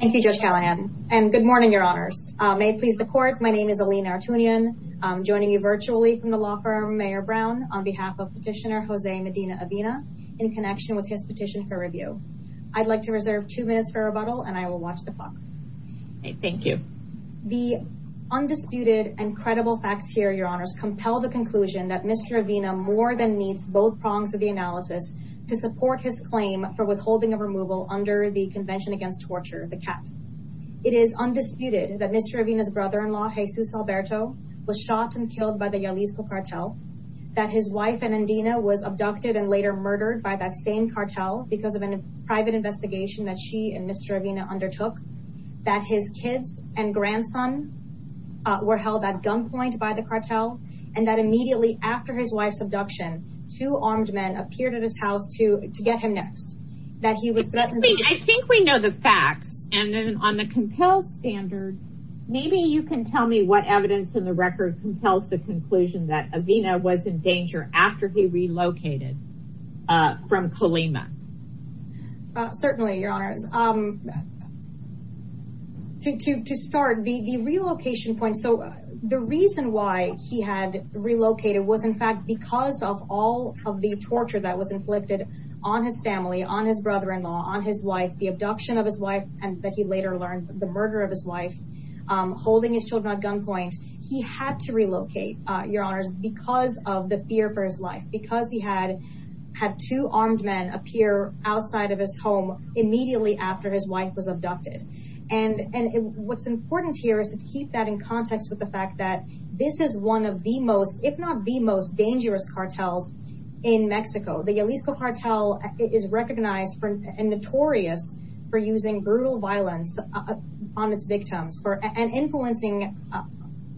Thank You Judge Callahan and good morning your honors may it please the court my name is Alina Artunian joining you virtually from the law firm Mayor Brown on behalf of petitioner Jose Medina Avina in connection with his petition for review. I'd like to reserve two minutes for rebuttal and I will watch the clock. Thank you. The undisputed and credible facts here your honors compel the conclusion that Mr. Avina more than meets both prongs of the analysis to support his claim for withholding of removal under the the cat. It is undisputed that Mr. Avina's brother-in-law Jesus Alberto was shot and killed by the Jalisco cartel that his wife and Andina was abducted and later murdered by that same cartel because of a private investigation that she and Mr. Avina undertook that his kids and grandson were held at gunpoint by the cartel and that immediately after his wife's abduction two armed men appeared at his house to get him next. I think we know the facts and then on the compel standard maybe you can tell me what evidence in the record compels the conclusion that Avina was in danger after he relocated from Colima. Certainly your honors. To start the relocation point so the reason why he had torture that was inflicted on his family on his brother-in-law on his wife the abduction of his wife and that he later learned the murder of his wife holding his children at gunpoint he had to relocate your honors because of the fear for his life because he had had two armed men appear outside of his home immediately after his wife was abducted and and what's important here is to keep that in context with the fact that this is one of the most if not the most dangerous cartels in Mexico. The Yalisco cartel is recognized for a notorious for using brutal violence on its victims for an influencing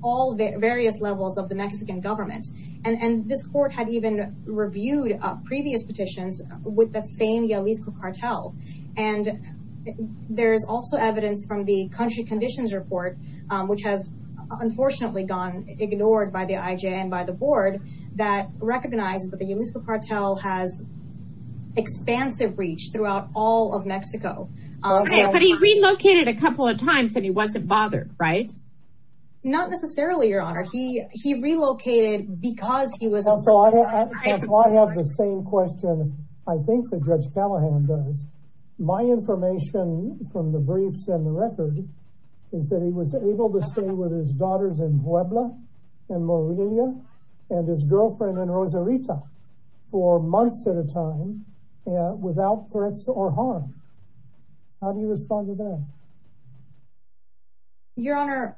all the various levels of the Mexican government and and this court had even reviewed previous petitions with the same Yalisco cartel and there's also evidence from the country conditions report which has unfortunately gone ignored by the IJ and by the board that recognizes that the Yalisco cartel has expansive reach throughout all of Mexico. But he relocated a couple of times and he wasn't bothered right? Not necessarily your honor he he relocated because he was. I have the same question I think the judge Callahan does. My information from the briefs and the record is that he was able to stay with his daughters in Puebla and Morelia and his girlfriend in Rosarito for months at a time without threats or harm. How do you respond to that? Your honor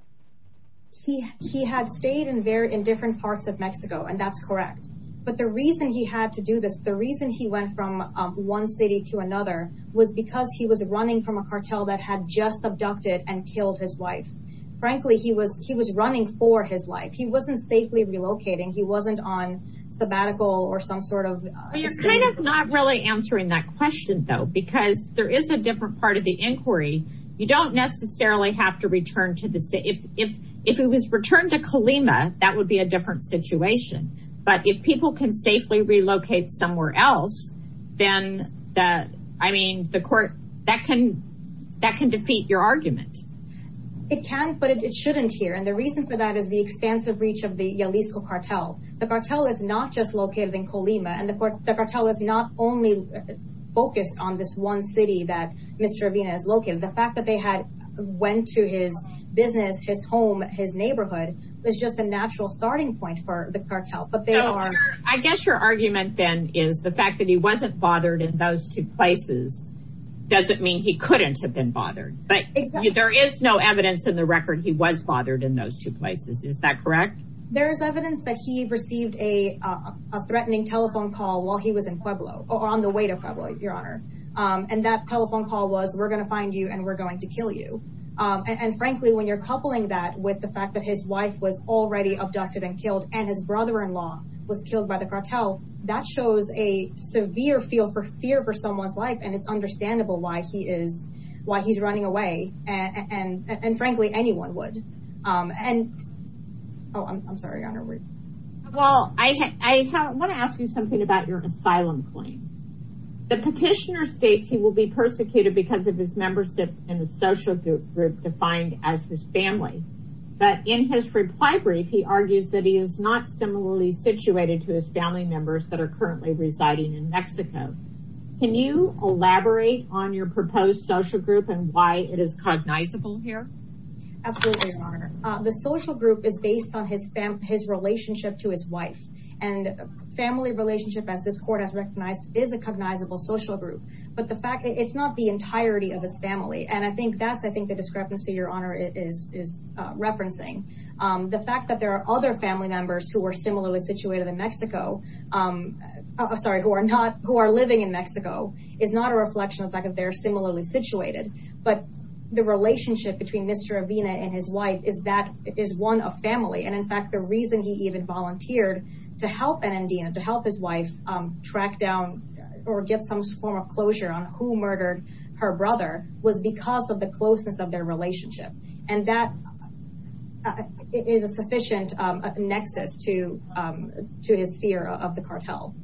he he had stayed in very in different parts of Mexico and that's correct but the reason he had to do this the reason he went from one city to another was because he was running from a cartel that had just abducted and killed his wife. Frankly he was he was running for his life he wasn't safely relocating he wasn't on sabbatical or some sort of. You're kind of not really answering that question though because there is a different part of the inquiry you don't necessarily have to return to the city if if it was returned to Colima that would be a different situation but if people can safely relocate somewhere else then that I mean the court that can defeat your argument. It can but it shouldn't here and the reason for that is the expansive reach of the Jalisco cartel. The cartel is not just located in Colima and the court the cartel is not only focused on this one city that Mr. Avina is located the fact that they had went to his business his home his neighborhood was just a natural starting point for the cartel but they are. I guess your argument then is the fact that he wasn't bothered in those two places doesn't mean he couldn't have been bothered but there is no evidence in the record he was bothered in those two places is that correct. There is evidence that he received a threatening telephone call while he was in Pueblo on the way to Pueblo your honor and that telephone call was we're going to find you and we're going to kill you and frankly when you're coupling that with the fact that his wife was already abducted and killed and his brother-in-law was killed by the why he is why he's running away and and frankly anyone would and oh I'm sorry well I want to ask you something about your asylum claim the petitioner states he will be persecuted because of his membership in the social group defined as his family but in his reply brief he argues that he is not similarly situated to his family members that are currently residing in Mexico. Can you elaborate on your proposed social group and why it is cognizable here? Absolutely your honor. The social group is based on his relationship to his wife and family relationship as this court has recognized is a cognizable social group but the fact it's not the entirety of his family and I think that's I think the discrepancy your honor is referencing. The fact that there are other family members who are similarly situated in Mexico I'm sorry who are not who are living in Mexico is not a reflection of the fact that they're similarly situated but the relationship between Mr. Avina and his wife is that is one of family and in fact the reason he even volunteered to help an Indian to help his wife track down or get some form of closure on who murdered her brother was because of the closeness of their relationship and that is a sufficient nexus to to his fear of the cartel.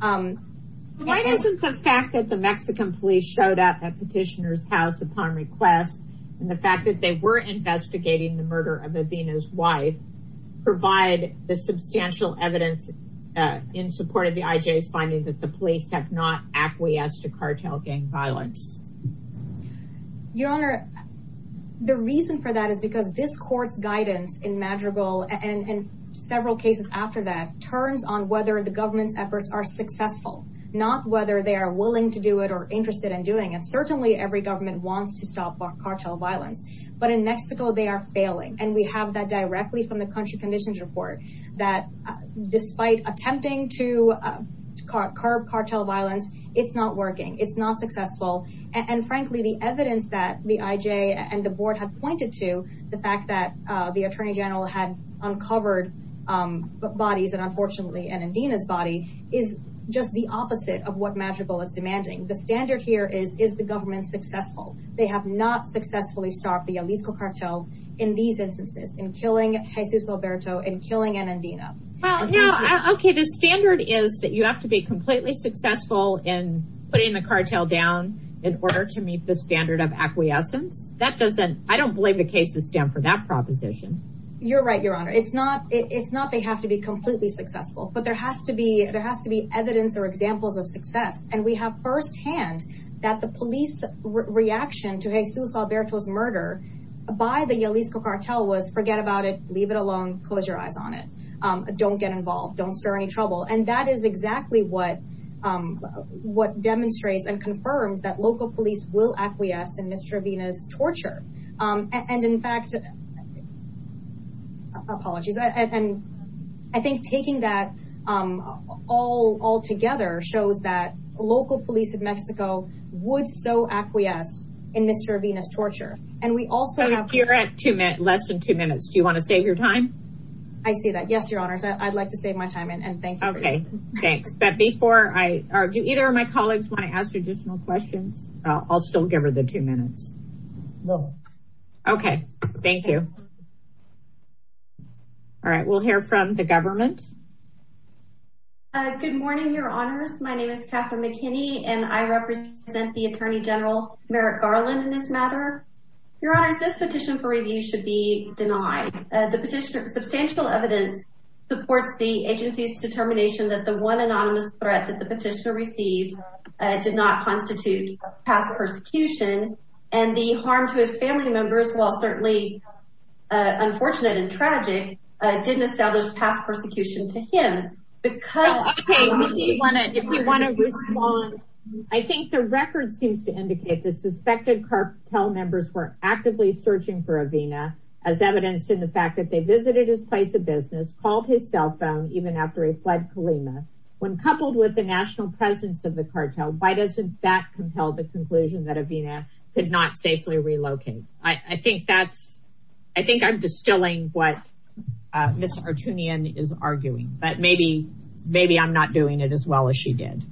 Why doesn't the fact that the Mexican police showed up at petitioners house upon request and the fact that they were investigating the murder of Avina's wife provide the substantial evidence in support of the IJ's finding that the police have not acquiesced to cartel gang violence? Your honor the reason for that is because this courts guidance in Madrigal and in several cases after that turns on whether the government's efforts are successful not whether they are willing to do it or interested in doing it certainly every government wants to stop cartel violence but in Mexico they are failing and we have that directly from the country conditions report that despite attempting to curb cartel violence it's not working it's not successful and frankly the evidence that the IJ and the board have pointed to the fact that the Attorney General had uncovered bodies and unfortunately an Adina's body is just the opposite of what Madrigal is demanding the standard here is is the government successful they have not successfully stopped the Jalisco cartel in these instances in killing Jesus Alberto and killing an Adina. Okay the standard is that you have to be completely successful in putting the cartel down in order to meet the standard of acquiescence that doesn't I don't believe the cases stand for that proposition. You're right your honor it's not it's not they have to be completely successful but there has to be there has to be evidence or examples of success and we have firsthand that the police reaction to Jesus Alberto's murder by the Jalisco cartel was forget about it leave it alone close your eyes on it don't get involved don't stir any trouble and that is exactly what what demonstrates and confirms that local police will acquiesce in Mr. Adina's torture and in fact apologies and I think taking that all all together shows that local police of Mexico would so acquiesce in Mr. Adina's torture and we also have here at two minute less than two minutes do you want to save your time I see that yes your honors I'd like to save my time and thank okay thanks but before I argue either of my I'll still give her the two minutes okay thank you all right we'll hear from the government good morning your honors my name is Catherine McKinney and I represent the Attorney General Merrick Garland in this matter your honors this petition for review should be denied the petitioner substantial evidence supports the agency's determination that the one anonymous threat that the petitioner did not constitute past persecution and the harm to his family members while certainly unfortunate and tragic didn't establish past persecution to him because if you want to respond I think the record seems to indicate the suspected cartel members were actively searching for Avina as evidenced in the fact that they visited his place of business called his cell phone even after he fled Colima when coupled with the national presence of the cartel why doesn't that compel the conclusion that Avina could not safely relocate I think that's I think I'm distilling what mr. Artunian is arguing but maybe maybe I'm not doing it as well as she did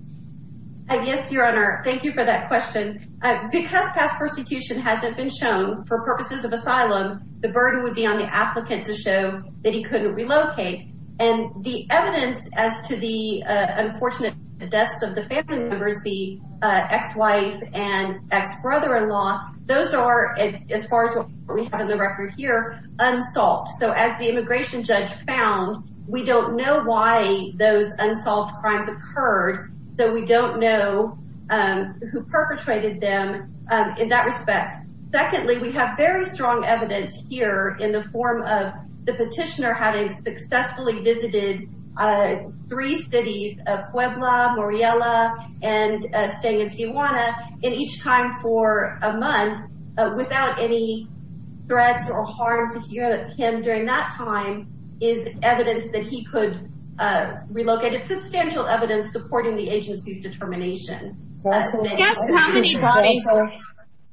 I guess your honor thank you for that question because past persecution hasn't been shown for purposes of asylum the burden would be on the applicant to show that he couldn't relocate and the evidence as to the unfortunate deaths of the family members the ex-wife and ex-brother-in-law those are as far as what we have in the record here unsolved so as the immigration judge found we don't know why those unsolved crimes occurred so we don't know who perpetrated them in that respect secondly we have very strong evidence here in the form of the petitioner having successfully visited three cities of Puebla, Muriela, and staying in Tijuana in each time for a month without any threats or harm to him during that time is evidence that he could relocate it's substantial evidence supporting the agency's determination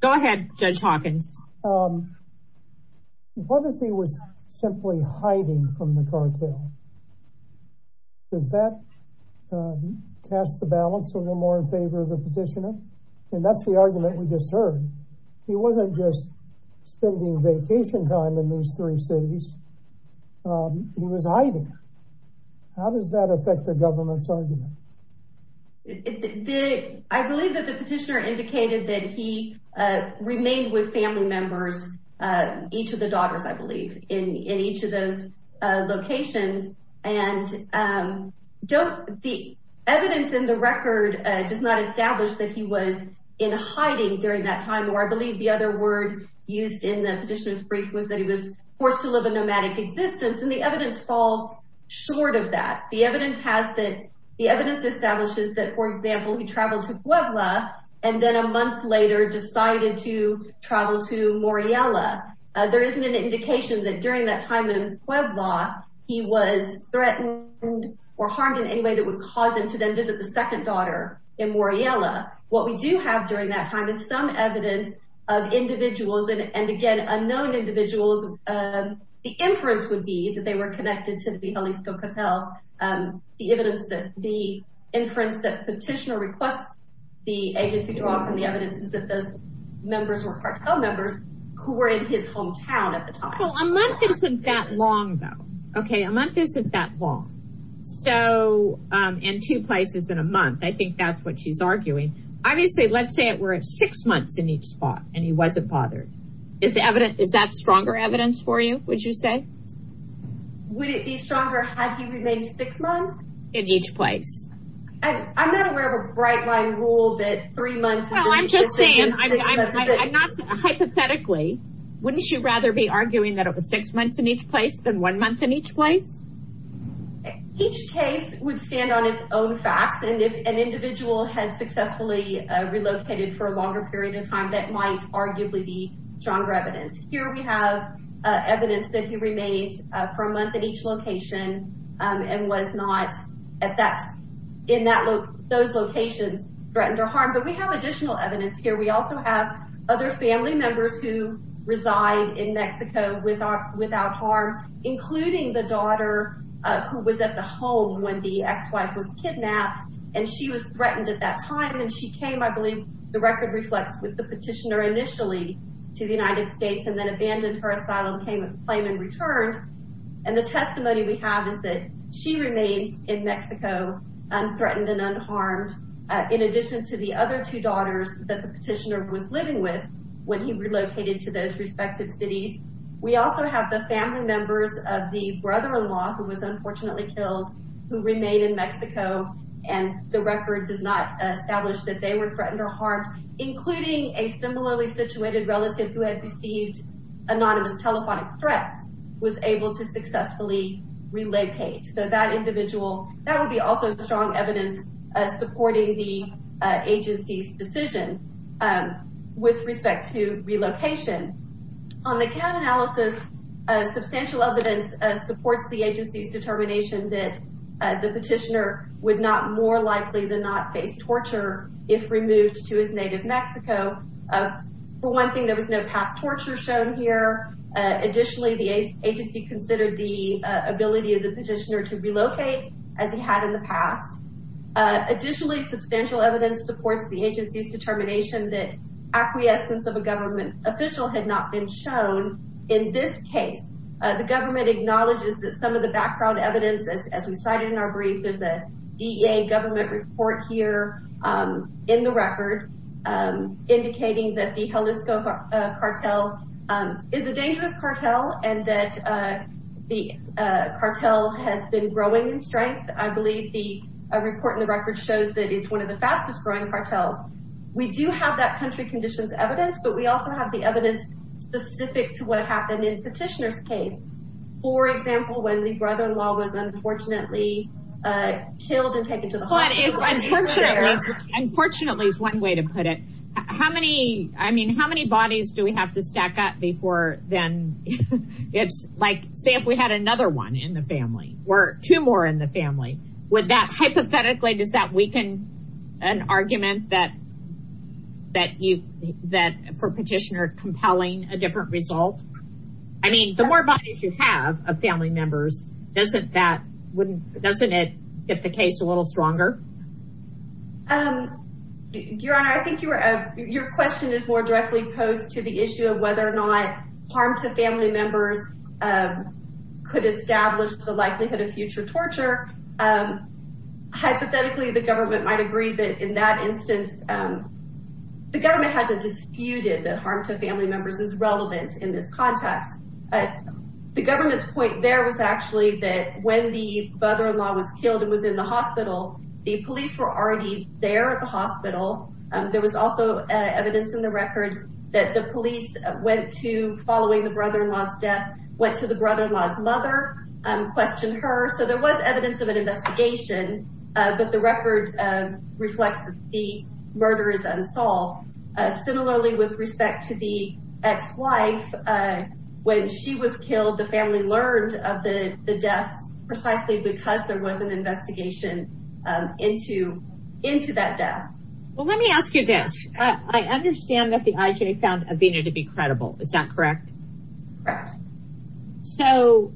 go ahead judge Hawkins what if he was simply hiding from the cartel does that cast the balance a little more in favor of the petitioner and that's the argument we just heard he wasn't just spending vacation time in those three cities he was hiding how does that affect the government's argument I believe that the petitioner indicated that he remained with family members each of the daughters I believe in in each of those locations and don't the evidence in the record does not establish that he was in hiding during that time or I believe the other word used in the petitioners brief was that he was forced to live a nomadic existence and the evidence falls short of that the evidence has that the evidence establishes that for example he traveled to Puebla and then a month later decided to travel to Muriela there isn't an indication that during that time in Puebla he was threatened or harmed in any way that would cause him to then visit the second daughter in Muriela what we do have during that time is some evidence of individuals and again unknown individuals the inference would be that they were connected to the Jalisco Cotel and the evidence that the inference that petitioner requests the agency draw from the evidence is that those members were cartel members who were in his hometown at the time a month isn't that long though okay a month isn't that long so in two places in a month I think that's what she's arguing obviously let's say it were at six months in each spot and he wasn't bothered is the evidence is that stronger evidence for you would you say would it be stronger had he remained six months in each place I'm not aware of a bright line rule that three months I'm just saying I'm not hypothetically wouldn't you rather be arguing that it was six months in each place than one month in each place each case would stand on its own facts and if an individual had successfully relocated for a longer period of time that might arguably be stronger evidence here we have evidence that he remained for a month at each location and was not at that in that look those locations threatened or harmed but we have additional evidence here we also have other family members who reside in Mexico with our without harm including the daughter who was at the home when the ex-wife was kidnapped and she was threatened at that time and she came I believe the record reflects with the petitioner initially to the United States and then abandoned her asylum payment claim and returned and the testimony we have is that she remains in Mexico and threatened and unharmed in addition to the other two daughters that the petitioner was living with when he relocated to those respective cities we also have the family members of the brother-in-law who was unfortunately killed who remained in Mexico and the record does not establish that they were threatened or harmed including a similarly situated relative who had received anonymous telephonic threats was able to successfully relocate so that individual that would be also strong evidence supporting the agency's decision and with respect to relocation on the count analysis substantial evidence supports the agency's determination that the petitioner would not more likely than not face torture if removed to his native Mexico for one thing there was no past torture shown here additionally the agency considered the ability of the petitioner to relocate as he had in the past additionally substantial evidence supports the agency's determination that acquiescence of a government official had not been shown in this case the government acknowledges that some of the background evidence as we cited in our government report here in the record indicating that the Jalisco cartel is a dangerous cartel and that the cartel has been growing in strength I believe the report in the record shows that it's one of the fastest growing cartels we do have that country conditions evidence but we also have the evidence specific to what happened in petitioners case for example when the brother-in-law was unfortunately unfortunately is one way to put it how many I mean how many bodies do we have to stack up before then it's like say if we had another one in the family or two more in the family with that hypothetically does that weaken an argument that that you that for petitioner compelling a different result I mean the more bodies you have of family members doesn't that wouldn't doesn't it get the case a little stronger your honor I think you were a your question is more directly posed to the issue of whether or not harm to family members could establish the likelihood of future torture hypothetically the government might agree that in that instance the government has a disputed that harm to family members is relevant in this context but the government's point there was actually that when the brother-in-law was killed and was in the hospital the police were already there at the hospital there was also evidence in the record that the police went to following the brother-in-law's death went to the brother-in-law's mother and questioned her so there was evidence of an investigation but the record reflects the murder is unsolved similarly with respect to the ex-wife when she was killed the family learned of the deaths precisely because there was an investigation into into that death well let me ask you this I understand that the IJ found Avena to be credible is that correct so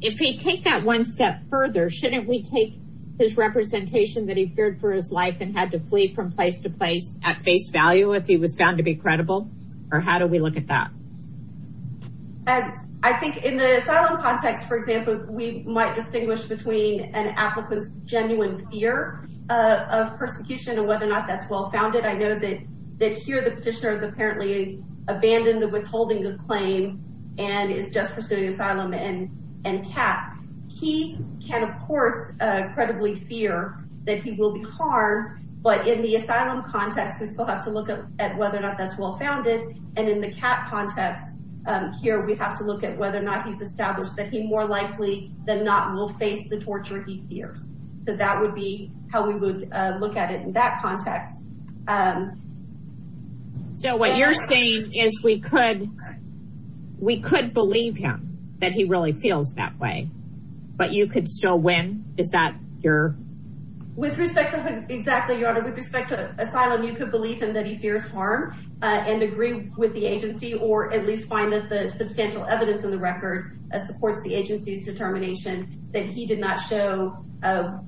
if they take that one step further shouldn't we take his representation that he feared for his life and had to flee from place to place at face value if he was found to be credible or how do we look at that I think in the asylum context for example we might distinguish between an applicant's genuine fear of persecution and whether or not that's well-founded I know that that here the petitioners apparently abandoned the withholding of claim and is just pursuing asylum and and cap he can of course credibly fear that he will be harmed but in the asylum context we still have to look at whether or not that's well-founded and in the cat context here we have to look at whether or not he's established that he more likely than not will face the torture he fears so that would be how we would look at it in that context so what you're saying is we could we could believe him that he really feels that way but you could still win is that your with respect to him exactly your honor with respect to asylum you could believe him that he fears harm and agree with the agency or at least find that the substantial evidence in the record supports the agency's determination that he did not show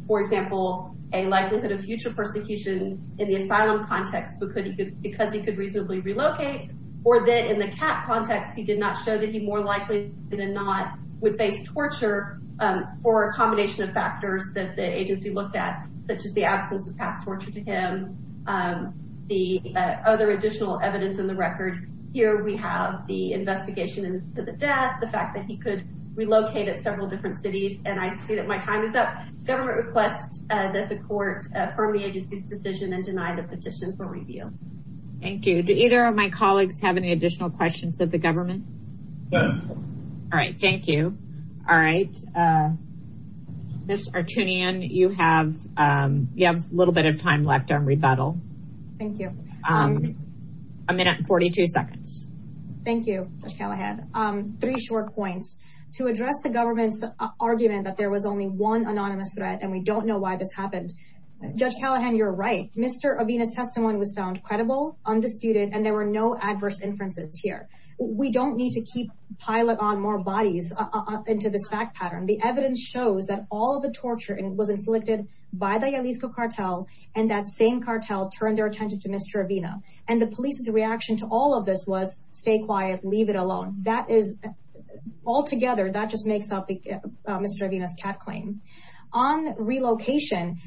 for example a likelihood of future persecution in the asylum context because he could because he could reasonably relocate or that in the cat context he did not show that he more likely than not would face torture for a combination of factors that the agency looked at such as the absence of past torture to him the other additional evidence in the record here we have the investigation into the death the fact that he could relocate at several different cities and I see that my time is up government requests that the court from the agency's decision and denied a petition for review thank you to either of my colleagues have any additional questions of the government all right thank you all right this are tuning in you have you have a little bit of time left on rebuttal thank you a minute 42 seconds thank you I had three short points to address the government's argument that there was only one anonymous threat and we don't know why this happened judge Callahan you're right mr. Avena's testimony was found credible undisputed and there were no adverse inferences here we don't need to keep pilot on more bodies into this fact pattern the evidence shows that all of the torture and was inflicted by the Jalisco cartel and that same cartel turned their attention to mr. Avena and the police's reaction to all of this was stay quiet leave it alone that is all together that just makes up the mr. Avena's cat claim on relocation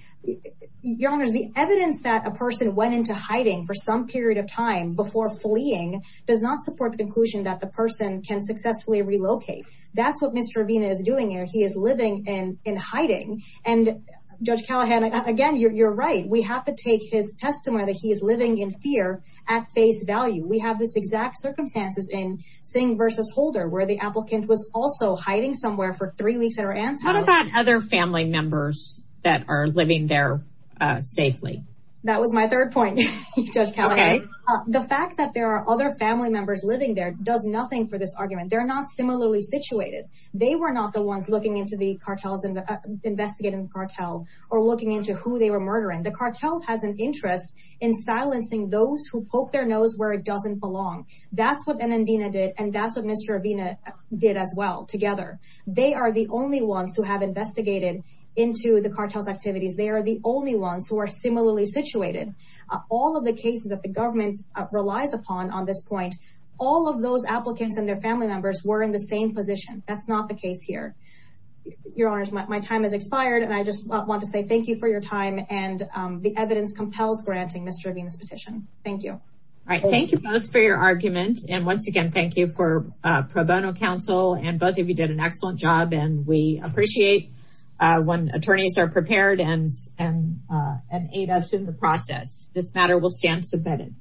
your honors the evidence that a person went into hiding for some period of time before fleeing does not support the conclusion that the person can successfully relocate that's what mr. Avena is doing here he is living in in hiding and judge Callahan again you're right we have to take his testimony that he is living in fear at face value we have this exact circumstances in Singh versus Holder where the applicant was also hiding somewhere for three weeks at her aunt's house other family members that are living there safely that was my third point okay the fact that there are other family members living there does nothing for this argument they're not similarly situated they were not the ones looking into the cartels and investigating the cartel or looking into who they were murdering the cartel has an interest in silencing those who poke their nose where it doesn't belong that's what an endena did and that's what mr. Avena did as well together they are the only ones who have investigated into the cartels activities they are the only ones who similarly situated all of the cases that the government relies upon on this point all of those applicants and their family members were in the same position that's not the case here your honors my time has expired and I just want to say thank you for your time and the evidence compels granting mr. Avena's petition thank you all right thank you both for your argument and once again thank you for pro bono counsel and both of you did an excellent job and we appreciate when us in the process this matter will stand submitted